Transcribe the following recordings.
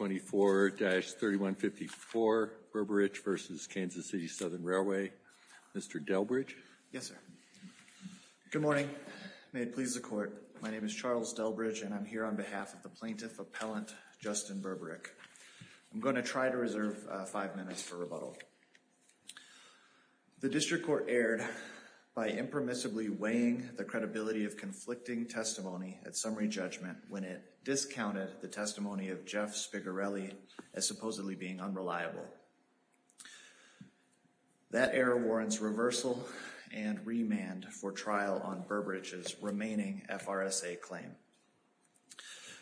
24-3154 Berberich v. Kansas City Southern Railway Mr. Delbridge yes sir good morning may it please the court my name is Charles Delbridge and I'm here on behalf of the plaintiff appellant Justin Berberich I'm going to try to reserve five minutes for rebuttal the district court erred by impermissibly weighing the credibility of conflicting testimony at summary judgment when it discounted the testimony of Jeff Spigarelli as supposedly being unreliable that error warrants reversal and remand for trial on Berberich's remaining FRSA claim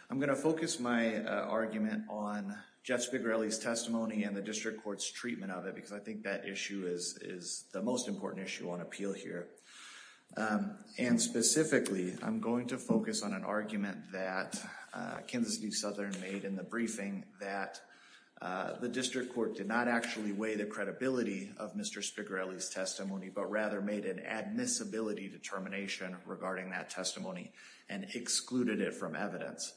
I'm going to focus my argument on Jeff Spigarelli's testimony and the district courts treatment of it because I think that issue is is the most important issue on appeal here and specifically I'm going to focus on an argument that Kansas City Southern made in the briefing that the district court did not actually weigh the credibility of Mr. Spigarelli's testimony but rather made an admissibility determination regarding that testimony and excluded it from evidence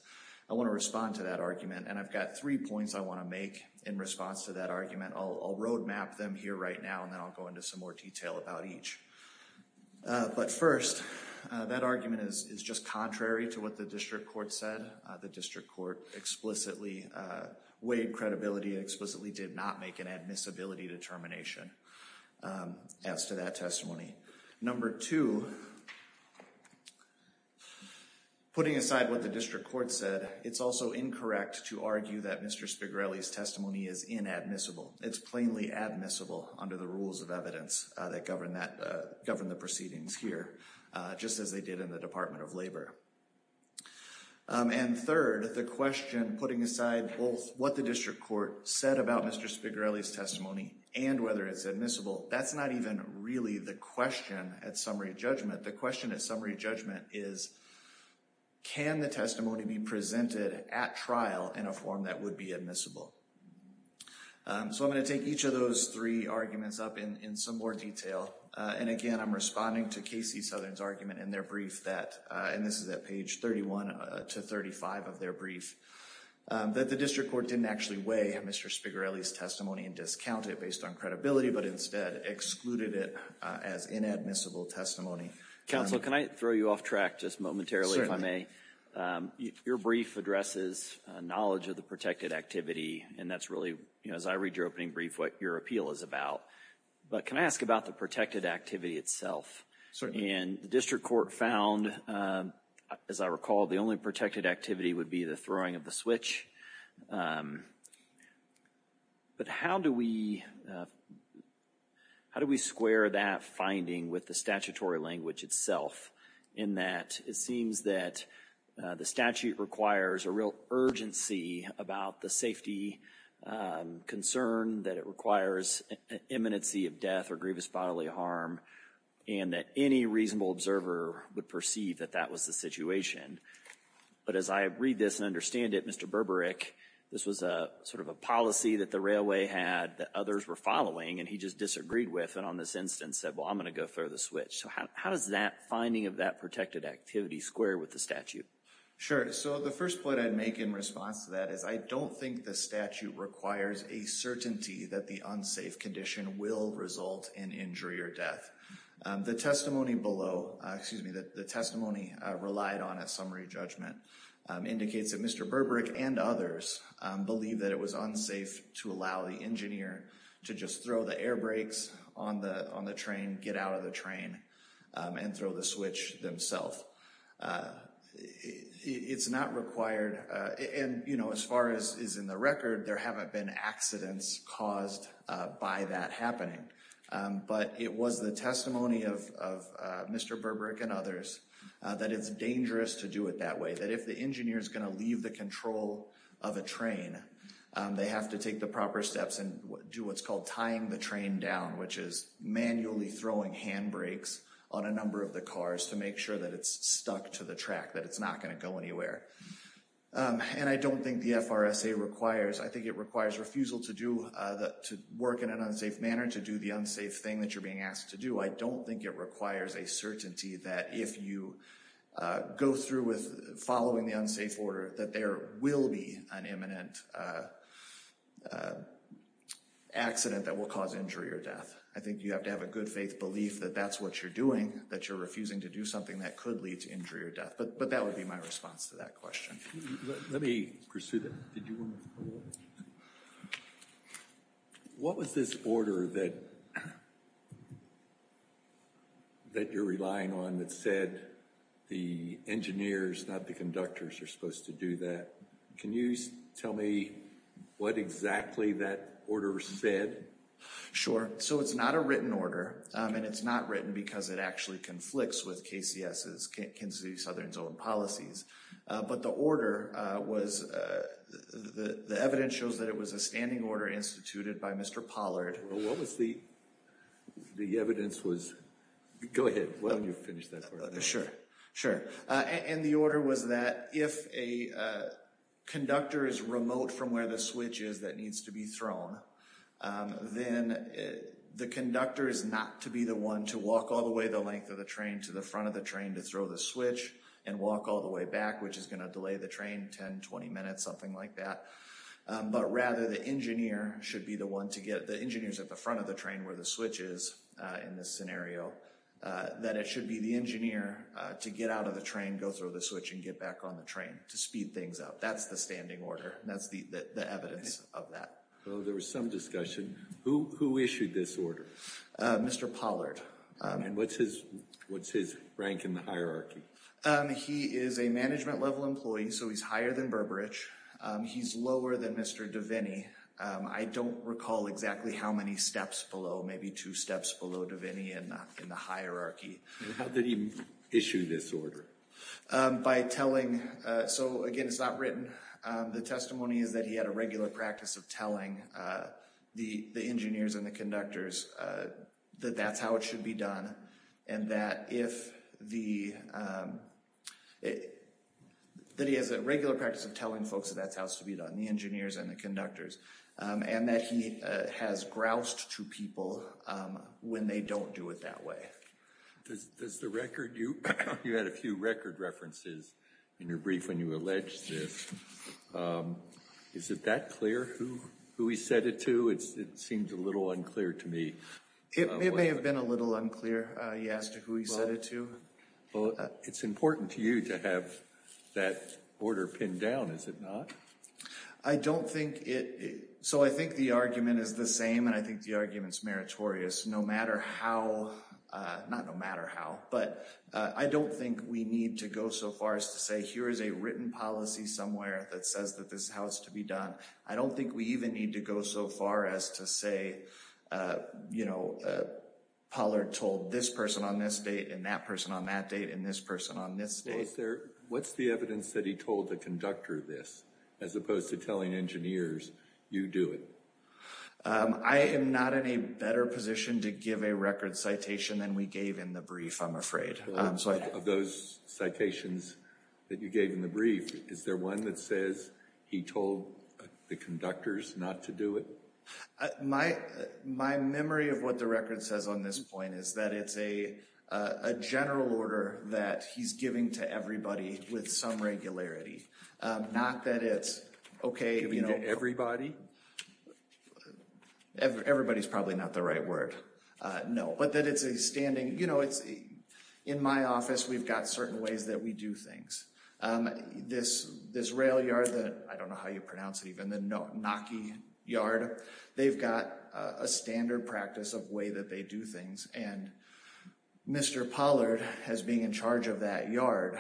I want to respond to that argument and I've got three points I want to make in response to that argument I'll roadmap them here right now and then I'll go into some more about each but first that argument is just contrary to what the district court said the district court explicitly weighed credibility explicitly did not make an admissibility determination as to that testimony number two putting aside what the district court said it's also incorrect to argue that mr. Spigarelli's testimony is inadmissible it's plainly admissible under the rules of evidence that govern that govern the proceedings here just as they did in the Department of Labor and third the question putting aside both what the district court said about mr. Spigarelli's testimony and whether it's admissible that's not even really the question at summary judgment the question at summary judgment is can the testimony be presented at trial in a form that would be admissible so I'm going to take each of those three arguments up in some more detail and again I'm responding to Casey Southern's argument in their brief that and this is that page 31 to 35 of their brief that the district court didn't actually weigh mr. Spigarelli's testimony and discount it based on credibility but instead excluded it as inadmissible testimony counsel can I throw you off track just momentarily I'm a your brief addresses knowledge of the protected activity and that's really you know as I read your opening brief what your appeal is about but can I ask about the protected activity itself so in the district court found as I recall the only protected activity would be the throwing of the switch but how do we how do we square that finding with the statutory language itself in that it seems that the statute requires a real urgency about the safety concern that it requires an imminency of death or grievous bodily harm and that any reasonable observer would perceive that that was the situation but as I read this and understand it mr. Berberic this was a sort of a policy that the railway had that others were following and he just disagreed with and on this instance said well I'm gonna go through the switch so how does that finding of that protected activity square with the statute sure so the first point I'd make in response to that is I don't think the statute requires a certainty that the unsafe condition will result in injury or death the testimony below excuse me that the testimony relied on a summary judgment indicates that mr. Berberic and others believe that it was unsafe to allow the engineer to just throw the air brakes on the on the train get out of the train and throw the switch themselves it's not required and you know as far as is in the record there haven't been accidents caused by that happening but it was the testimony of mr. Berberic and others that it's dangerous to do it that way that if the engineer is going to leave the control of a train they have to take the proper steps and do what's called tying the train down which is manually throwing hand brakes on a number of the cars to make sure that it's stuck to the track that it's not going to go anywhere and I don't think the FRSA requires I think it requires refusal to do that to work in an unsafe manner to do the unsafe thing that you're being asked to do I don't think it requires a certainty that if you go through with following the unsafe order that there will be an imminent accident that will cause injury or death I think you have to have a good faith belief that that's what you're doing that you're refusing to do something that could lead to injury or death but but that would be my response to that question let me pursue that what was this order that that you're relying on that said the engineers not the conductors are supposed to do that can you tell me what exactly that order said sure so it's not a written order and it's not written because it actually conflicts with KCS's Kansas City Southern Zone policies but the order was the evidence shows that it was a standing order instituted by mr. Pollard what was the the evidence was go ahead sure sure and the order was that if a conductor is remote from where the switch is that needs to be thrown then the conductor is not to be the one to walk all the way the length of the train to the front of the train to throw the switch and walk all the way back which is going to delay the train 10 20 minutes something like that but rather the engineer should be the one to get the engineers at the front of the train where the switch is in this scenario that it should be the engineer to get out of the train go through the switch and get back on the train to speed things up that's the standing order that's the evidence of that well there was some discussion who issued this order mr. Pollard and what's his what's his rank in the hierarchy he is a management level employee so he's higher than Burbridge he's lower than mr. Devaney I don't recall exactly how many steps below maybe two steps below Devaney and not in the hierarchy how did issue this order by telling so again it's not written the testimony is that he had a regular practice of telling the the engineers and the conductors that that's how it should be done and that if the that he has a regular practice of telling folks that's how it's to be done the engineers and the conductors and that he has groused to people when they don't do it that way does the record you you had a few record references in your brief when you alleged this is it that clear who who he said it to it seemed a little unclear to me it may have been a little unclear he asked who he said it to well it's important to you to have that order pinned down is it not I don't think it so I think the argument is the same and I think the arguments meritorious no matter how not no matter how but I don't think we need to go so far as to say here is a written policy somewhere that says that this house to be done I don't think we even need to go so far as to say you know Pollard told this person on this date and that person on that date in this person on this there what's the evidence that he told the conductor this as opposed to telling engineers you do it I am NOT in a better position to give a record citation than we gave in the brief I'm afraid I'm sorry of those citations that you gave in the brief is there one that says he told the conductors not to do it my my memory of what the record says on this point is that it's a general order that he's giving to everybody with some regularity not that it's okay you know everybody everybody's probably not the right word no but that it's a standing you know it's in my office we've got certain ways that we do things this this rail yard that I don't know how you pronounce it even then no knocking yard they've got a standard practice of way that they do things and mr. Pollard has being in charge of that yard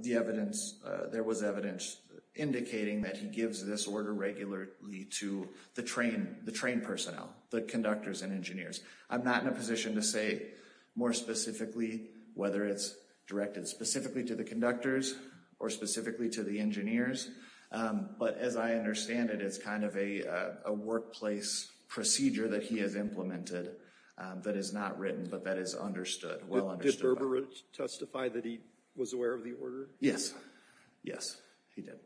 the evidence there was evidence indicating that he gives this order regularly to the train the train personnel the conductors and engineers I'm not in a position to say more specifically whether it's directed specifically to the conductors or specifically to the engineers but as I understand it it's kind of a workplace procedure that he has implemented that is not written but that is understood well understood testify that he was aware of the order yes yes he did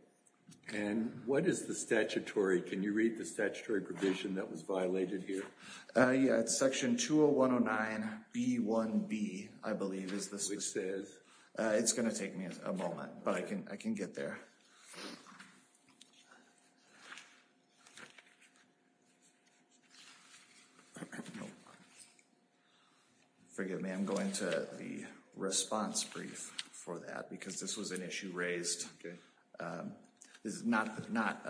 and what is the statutory can you read the statutory provision that was violated here yeah it's section 20 109 B 1 B I believe is this which says it's gonna take me a moment but I can I can get there forgive me I'm going to the response brief for that because this was an issue raised this is not not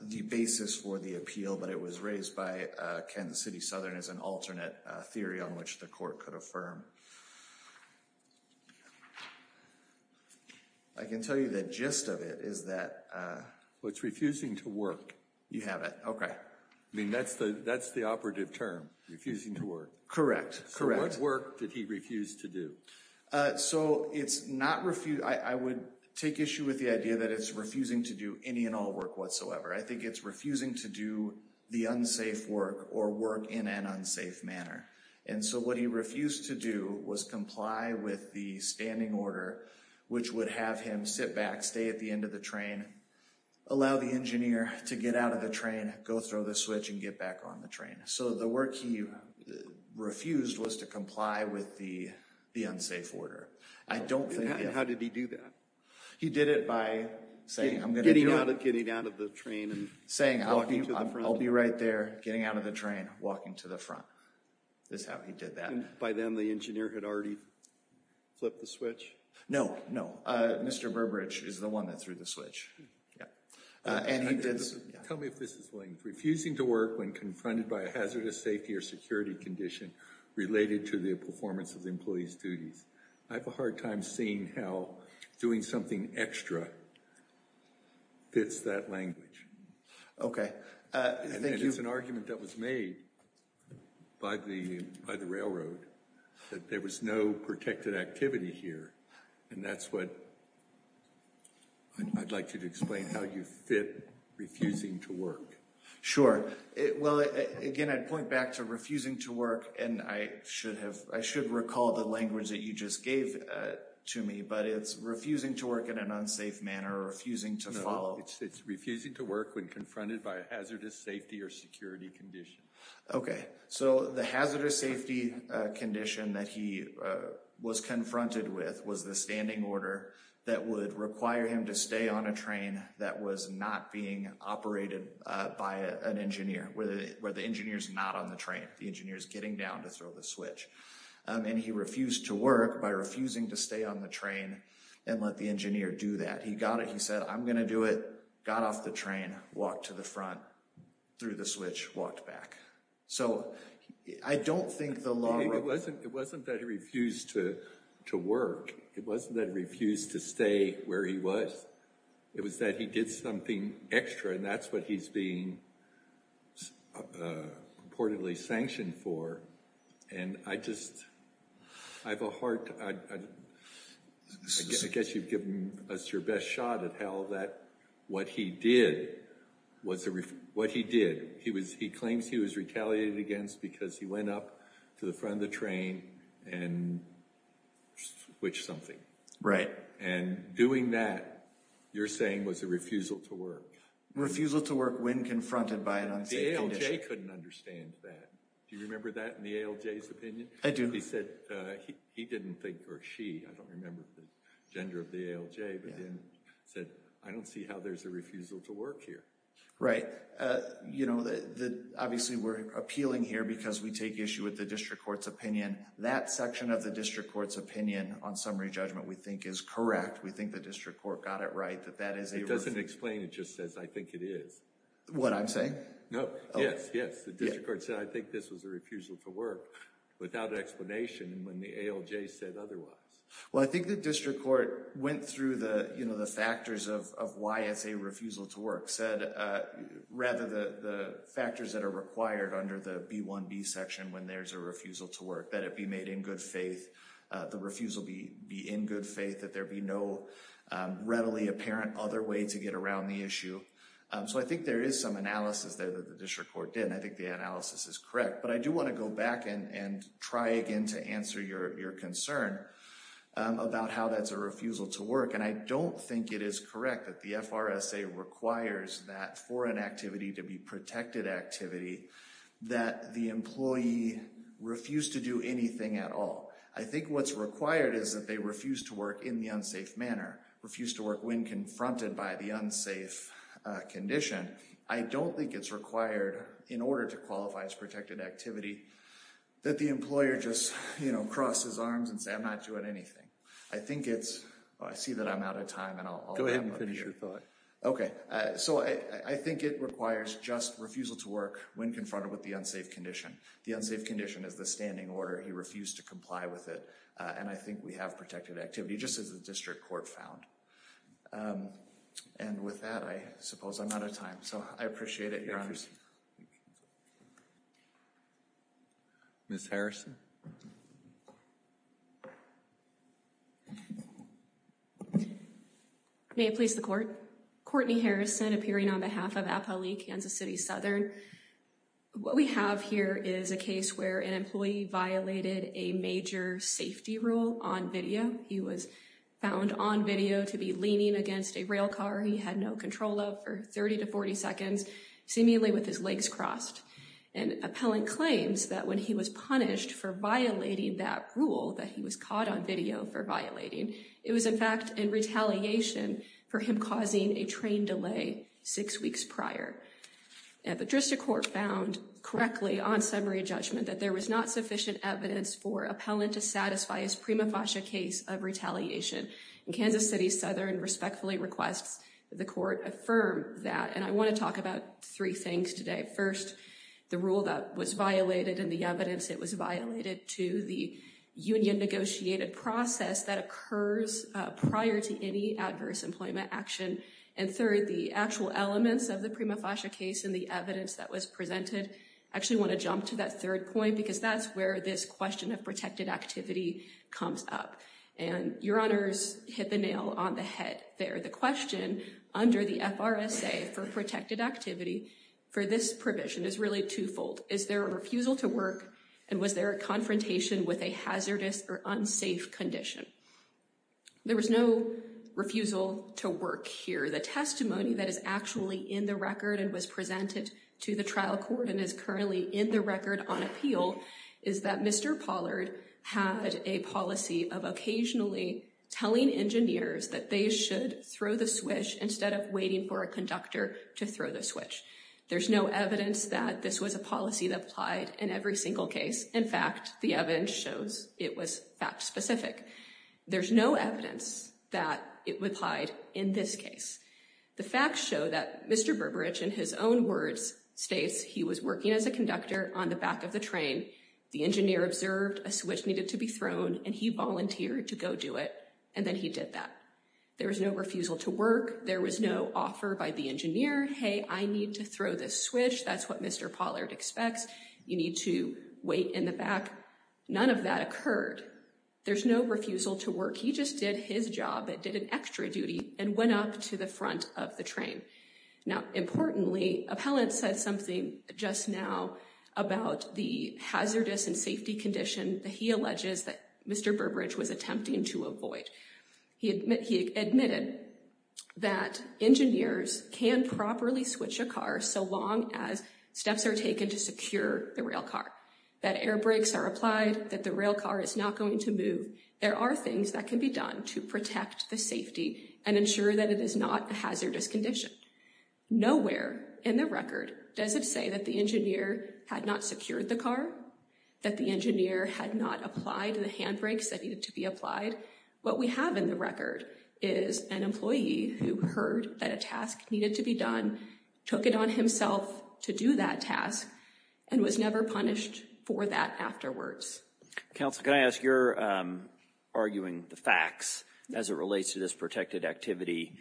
the basis for the appeal but it was raised by Kansas City Southern as an alternate theory on which the court could affirm I can tell you the gist of it is that what's refusing to work you have it okay I mean that's that's the operative term refusing to work correct correct work that he refused to do so it's not refused I would take issue with the idea that it's refusing to do any and all work whatsoever I think it's refusing to do the unsafe work or work in an unsafe manner and so what he refused to do was comply with the standing order which would have him sit back stay at the end of the train allow the engineer to get out of the train go throw the switch and get back on the train so the work he refused was to comply with the the unsafe order I don't think how did he do that he did it by saying I'm getting out of getting out of the train and saying I'll be I'll be right there getting out of the train walking to the front that's how he did that by then the engineer had already flipped the switch no no mr. Burbridge is the one that threw the switch yeah and he did so tell me if this is willing to refusing to work when confronted by a hazardous safety or security condition related to the performance of the employees duties I have a hard time seeing how doing something extra fits that language okay thank you it's an argument that was made by the by the railroad that there was no protected activity here and that's what I'd like you to explain how you fit refusing to work sure it well again I'd point back to refusing to work and I should have I should recall the language that you just gave to me but it's refusing to work in an unsafe manner refusing to follow it's refusing to work when confronted by a hazardous safety or security condition okay so the hazardous safety condition that he was confronted with was the standing order that would require him to stay on a train that was not being operated by an engineer where the engineers not on the train the engineers getting down to throw the switch and he refused to work by refusing to stay on the train and let the engineer do that he got it he said I'm gonna do it got off the train walked to the front through the switch walked back so I don't think the law it wasn't it wasn't that he refused to to work it wasn't that refused to stay where he was it was that he did something extra and that's what he's being reportedly sanctioned for and I just I have a heart I guess you've given us your best shot at hell that what he did was what he did he was he claims he was retaliated against because he went up to the front of the train and switched something right and doing that you're saying was a refusal to work refusal to work when confronted by an unsafe condition ALJ couldn't understand that do you remember that in the ALJ's opinion I do he said he didn't think or she I don't remember the gender of the ALJ but then said I don't see how there's a refusal to work here right you know that obviously we're appealing here because we take issue with the district court's opinion that section of the district court's opinion on summary judgment we think is correct we think the district court got it right that that is it doesn't explain it just says I think it is what I'm saying no yes yes the district court said I think this was a refusal to work without explanation and when the ALJ said otherwise well I district court went through the you know the factors of why it's a refusal to work said rather the the factors that are required under the b1b section when there's a refusal to work that it be made in good faith the refusal be be in good faith that there be no readily apparent other way to get around the issue so I think there is some analysis there that the district court didn't I think the analysis is correct but I do want to go back and try again to answer your concern about how that's a refusal to work and I don't think it is correct that the FRSA requires that for an activity to be protected activity that the employee refused to do anything at all I think what's required is that they refuse to work in the unsafe manner refuse to work when confronted by the unsafe condition I don't think it's required in order to qualify as that the employer just you know crosses arms and say I'm not doing anything I think it's I see that I'm out of time and I'll go ahead and finish your thought okay so I I think it requires just refusal to work when confronted with the unsafe condition the unsafe condition is the standing order he refused to comply with it and I think we have protected activity just as a district court found and with that I suppose I'm out of time so I appreciate it miss Harrison may it please the court Courtney Harrison appearing on behalf of a poli in Kansas City Southern what we have here is a case where an employee violated a major safety rule on video he was found on video to be leaning against a rail car he had no control of for 30 to 40 seconds seemingly with his legs crossed and appellant claims that when he was punished for violating that rule that he was caught on video for violating it was in fact in retaliation for him causing a train delay six weeks prior at the drista court found correctly on summary judgment that there was not sufficient evidence for appellant to satisfy his prima facie case of retaliation in Kansas City Southern respectfully requests the court affirm that and I want to talk about three things today first the rule that was violated and the evidence it was violated to the union negotiated process that occurs prior to any adverse employment action and third the actual elements of the prima facie case and the evidence that was presented actually want to jump to that third point because that's where this question of protected activity comes up and your honors hit the nail on the head there the question under the FRSA for protected activity for this provision is really twofold is there a refusal to work and was there a confrontation with a hazardous or unsafe condition there was no refusal to work here the testimony that is actually in the record and was presented to the trial court and is currently in the record on appeal is that mr. Pollard had a policy of occasionally telling engineers that they should throw the switch instead of waiting for a conductor to throw the switch there's no evidence that this was a policy that applied in every single case in fact the evidence shows it was fact-specific there's no evidence that it would hide in this case the facts show that mr. Burbridge in his own words states he was working as a conductor on the back of the train the engineer observed a switch needed to be thrown and he volunteered to go do it and then he did that there was no refusal to work there was no offer by the engineer hey I need to throw this switch that's what mr. Pollard expects you need to wait in the back none of that occurred there's no refusal to work he just did his job that did an extra duty and went up to the front of the train now importantly appellant said something just now about the hazardous and safety condition that he alleges that mr. Burbridge was attempting to avoid he admitted that engineers can properly switch a car so long as steps are taken to secure the rail car that air brakes are applied that the rail car is not going to move there are things that can be done to protect the safety and ensure that it is not a hazardous condition nowhere in the record does it say that the engineer had not secured the car that the engineer had not applied to the handbrakes that needed to be applied what we have in the record is an employee who heard that a task needed to be done took it on himself to do that task and was never punished for that afterwards counsel can I ask you're arguing the facts as it relates to this protected activity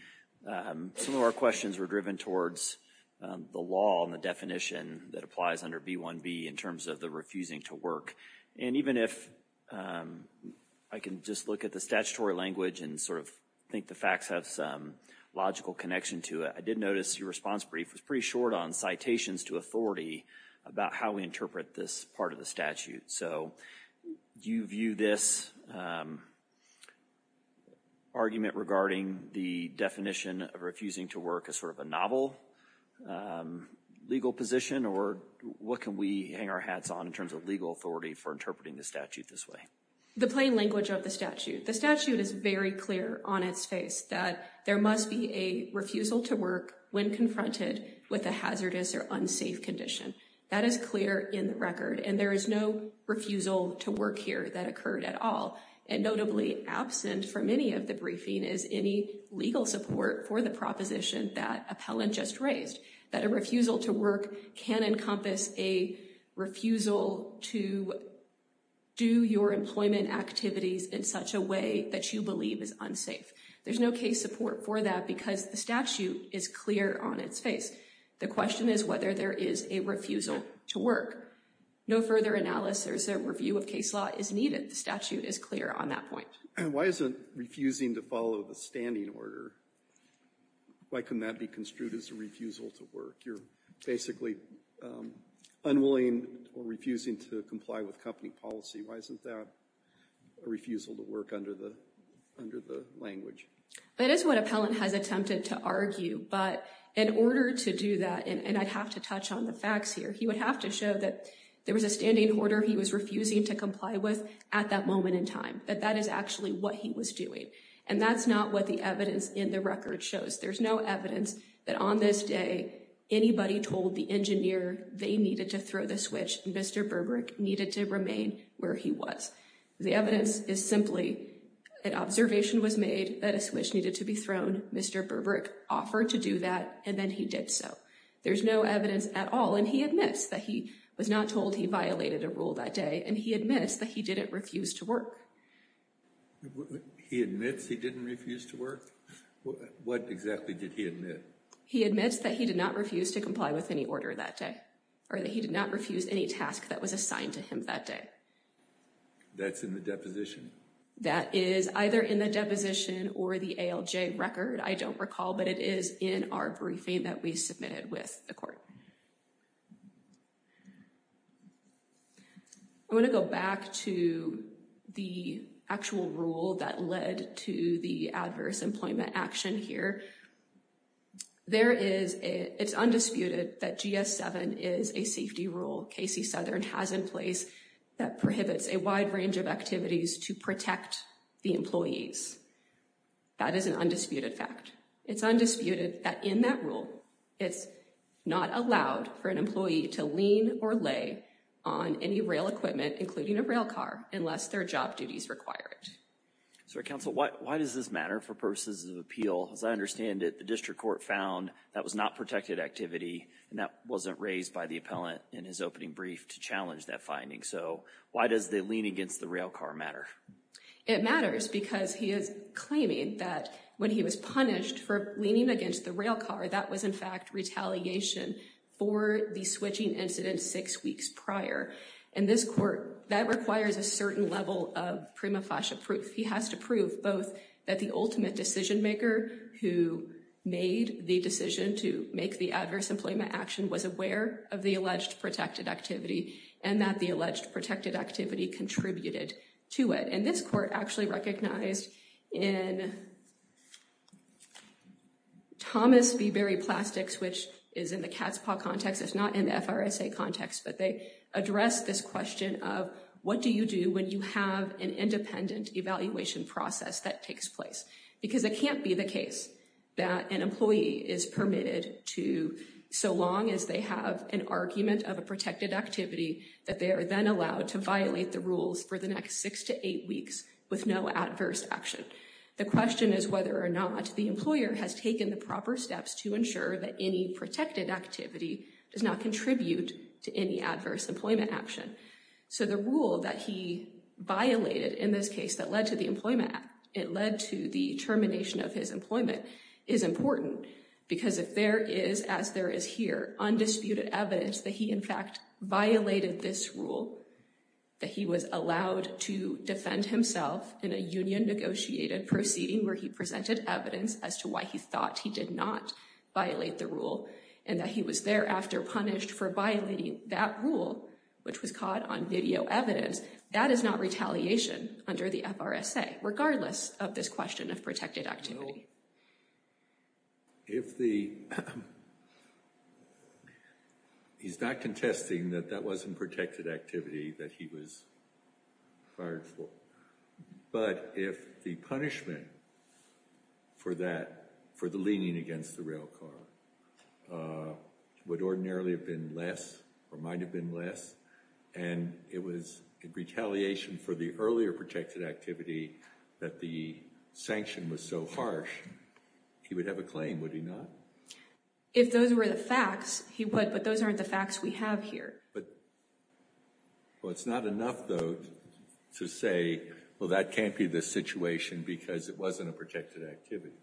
some of our questions were driven towards the law and the definition that applies under b1b in terms of the refusing to work and even if I can just look at the statutory language and sort of think the facts have some logical connection to it I did notice your response brief was pretty short on citations to authority about how we interpret this part of the statute so do you view this argument regarding the definition of refusing to work as sort of a novel legal position or what can we hang our hats on in terms of legal authority for interpreting the statute this way the plain language of the statute the statute is very clear on its face that there must be a refusal to work when confronted with a hazardous or unsafe condition that is clear in the record and there is no refusal to work here that occurred at all and notably absent from any of the briefing is any legal support for the proposition that appellant just raised that a refusal to work can encompass a refusal to do your employment activities in such a way that you believe is unsafe there's no case support for that because the statute is clear on its face the question is whether there is a refusal to work no further analysis there's a review of case law is needed the statute is clear on that point and why isn't refusing to follow the standing order why can that be construed as a refusal to work you're basically unwilling or refusing to comply with company policy why isn't that a refusal to work under the under the language that is what appellant has attempted to argue but in order to do that and I have to touch on the facts here he would have to show that there was a standing order he was refusing to comply with at that moment in time that that is actually what he was doing and that's not what the evidence in the record shows there's no evidence that on this day anybody told the engineer they needed to throw the switch mr. Burbrick needed to remain where he was the evidence is simply an observation was made that a switch needed to be thrown mr. Burbrick offered to do that and then he did so there's no evidence at all and he admits that he was not told he violated a rule that day and he didn't refuse to work he admits he didn't refuse to work what exactly did he admit he admits that he did not refuse to comply with any order that day or that he did not refuse any task that was assigned to him that day that's in the deposition that is either in the deposition or the ALJ record I don't recall but it is in our briefing that we submitted with the court I want to go back to the actual rule that led to the adverse employment action here there is it's undisputed that GS 7 is a safety rule Casey Southern has in place that prohibits a wide range of activities to protect the employees that is an undisputed fact it's undisputed that in that rule it's not allowed for an a rail car unless their job duties required so council what why does this matter for purposes of appeal as I understand it the district court found that was not protected activity and that wasn't raised by the appellant in his opening brief to challenge that finding so why does they lean against the rail car matter it matters because he is claiming that when he was punished for leaning against the rail car that was in fact retaliation for the switching incident six weeks prior and this court that requires a certain level of prima facie proof he has to prove both that the ultimate decision-maker who made the decision to make the adverse employment action was aware of the alleged protected activity and that the alleged protected activity contributed to it and this court actually recognized in Thomas the very plastics which is in the cat's paw context it's not in the FRSA context but they addressed this question of what do you do when you have an independent evaluation process that takes place because it can't be the case that an employee is permitted to so long as they have an argument of a protected activity that they are then allowed to violate the rules for the next six to eight weeks with no adverse action the question is whether or not the employer has taken the proper steps to ensure that any protected activity does not contribute to any adverse employment action so the rule that he violated in this case that led to the Employment Act it led to the termination of his employment is important because if there is as there is here undisputed evidence that he in fact violated this rule that he was allowed to defend himself in a union negotiated proceeding where he presented evidence as to why he thought he did not violate the rule and that he was thereafter punished for violating that rule which was caught on video evidence that is not retaliation under the FRSA regardless of this question of protected activity if the he's not contesting that that wasn't protected activity that he was fired for but if the punishment for that for the leaning against the rail car would ordinarily have been less or might have been less and it was retaliation for the earlier protected activity that the sanction was so harsh he would have a claim would he not if those were the facts he would but those are the facts we have here but it's not enough to say well that can't be the situation because it wasn't a protected activity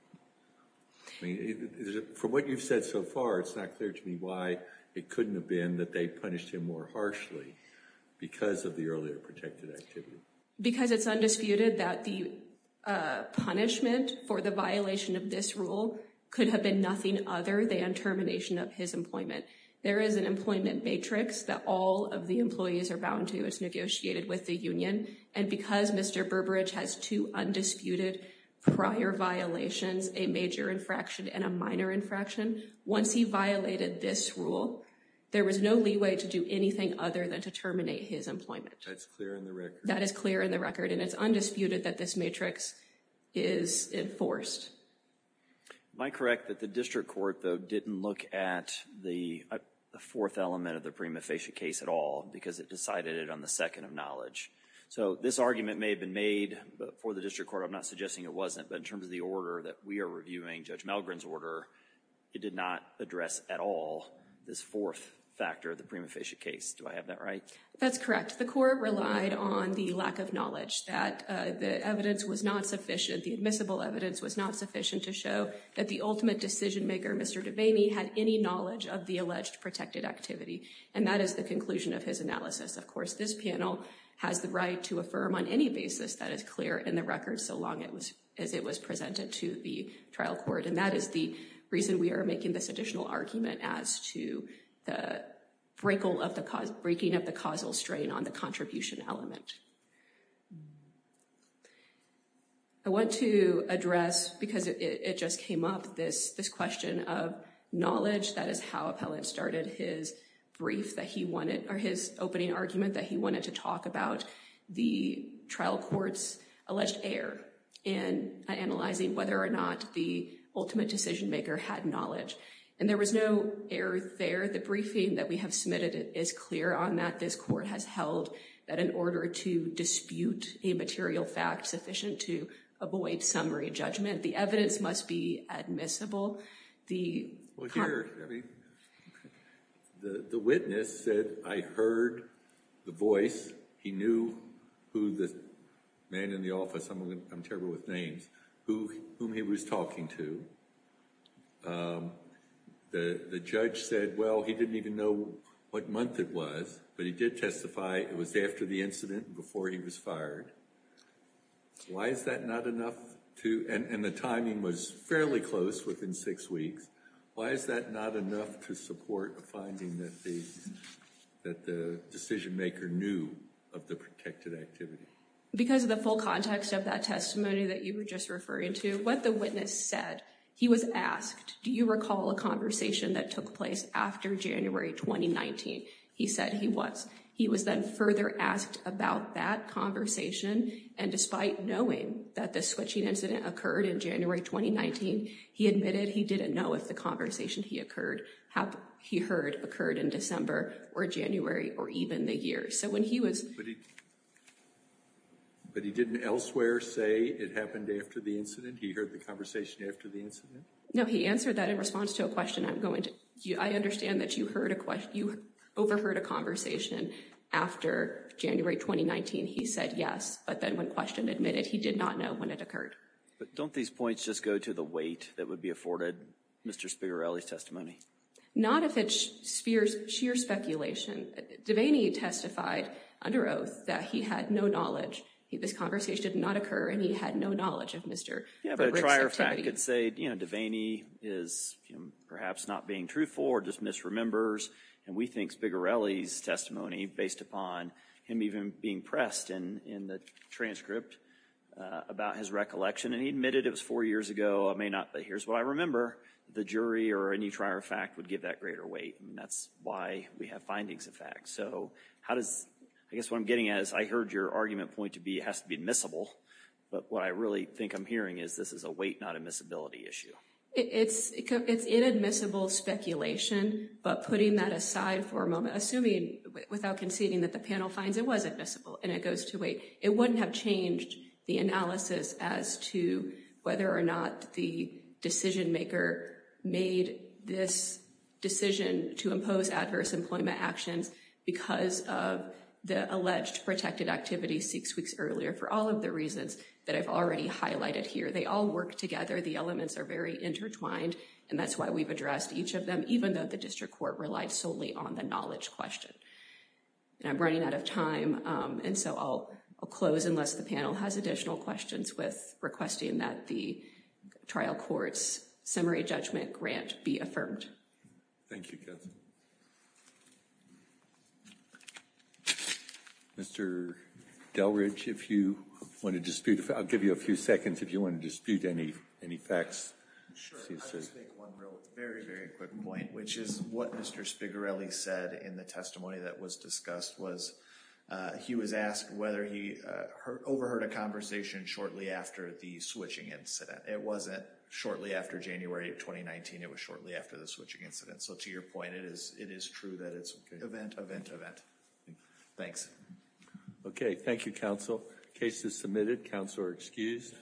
for what you said so far it's not clear to me why it couldn't have been that they punished him more harshly because of the earlier protected activity because it's undisputed that the punishment for the violation of this rule could have been nothing other than termination of his employment there is an employment matrix that all of the employees are bound to it's negotiated with the Union and because mr. Burbridge has two undisputed prior violations a major infraction and a minor infraction once he violated this rule there was no leeway to do anything other than to terminate his employment that is clear in the record and it's undisputed that this matrix is enforced my correct that the district court though didn't look at the fourth element of the prima facie case at all because it decided it on the second of knowledge so this argument may have been made but for the district court I'm not suggesting it wasn't but in terms of the order that we are reviewing judge Melgren's order it did not address at all this fourth factor of the prima facie case do I have that right that's correct the court relied on the lack of knowledge that the evidence was not sufficient the admissible evidence was not sufficient to show that the ultimate decision-maker mr. Devaney had any knowledge of the alleged protected activity and that is the conclusion of his analysis of course this panel has the right to affirm on any basis that is clear in the record so long it was as it was presented to the trial court and that is the reason we are making this additional argument as to the break all of the cause breaking of the causal strain on the contribution element I want to address because it just came up this this question of knowledge that is how appellant started his brief that he wanted or his opening argument that he wanted to talk about the trial courts alleged error in analyzing whether or not the ultimate decision-maker had knowledge and there was no error there the briefing that we have submitted it is clear on that this court has held that in order to dispute a material fact sufficient to avoid summary judgment the evidence must be admissible the the witness said I heard the voice he knew who the man in the office I'm terrible with names who whom he was talking to the the judge said well he didn't even know what month it was but he did testify it was after the incident before he was fired why is that not enough to and the timing was fairly close within six weeks why is that not enough to support a finding that the that the decision-maker knew of the protected activity because of the full context of that testimony that you were just referring to what the witness said he was asked do you recall a conversation that took place after January 2019 he said he was he was then further asked about that conversation and despite knowing that the switching incident occurred in January 2019 he admitted he didn't know if the conversation he occurred how he heard occurred in December or January or even the year so when he was but he didn't elsewhere say it happened after the incident he heard the conversation after the incident no he answered that in response to a question I'm going to you I understand that you heard a question you overheard a conversation after January 2019 he said yes but then when questioned admitted he did not know when it occurred but don't these points just go to the weight that would be afforded mr. Spigarelli's testimony not if it's Spears sheer speculation Devaney testified under oath that he had no knowledge he this conversation did not occur and he had no knowledge of mr. could say you know Devaney is perhaps not being truthful or just misremembers and we think Spigarelli's testimony based upon him even being pressed in in the transcript about his recollection and he admitted it was four years ago I may not but here's what I remember the jury or any trier fact would give that greater weight and that's why we have findings in fact so how does I guess what I'm getting as I heard your argument point to be it has to be but what I really think I'm hearing is this is a weight not admissibility issue it's it's inadmissible speculation but putting that aside for a moment assuming without conceding that the panel finds it was admissible and it goes to weight it wouldn't have changed the analysis as to whether or not the decision maker made this decision to impose adverse employment actions because of the alleged protected activity six weeks earlier for all of the reasons that I've already highlighted here they all work together the elements are very intertwined and that's why we've addressed each of them even though the district court relied solely on the knowledge question and I'm running out of time and so I'll close unless the panel has additional questions with requesting that the trial courts summary judgment grant be affirmed mr. Delridge if you want to dispute if I'll give you a few seconds if you want to dispute any any facts which is what mr. Spigarelli said in the testimony that was discussed was he was asked whether he overheard a conversation shortly after the switching incident it wasn't shortly after January of 2019 it was shortly after the switching incident so to your point it is it is true that it's event event event thanks okay thank you counsel case is submitted counselor excused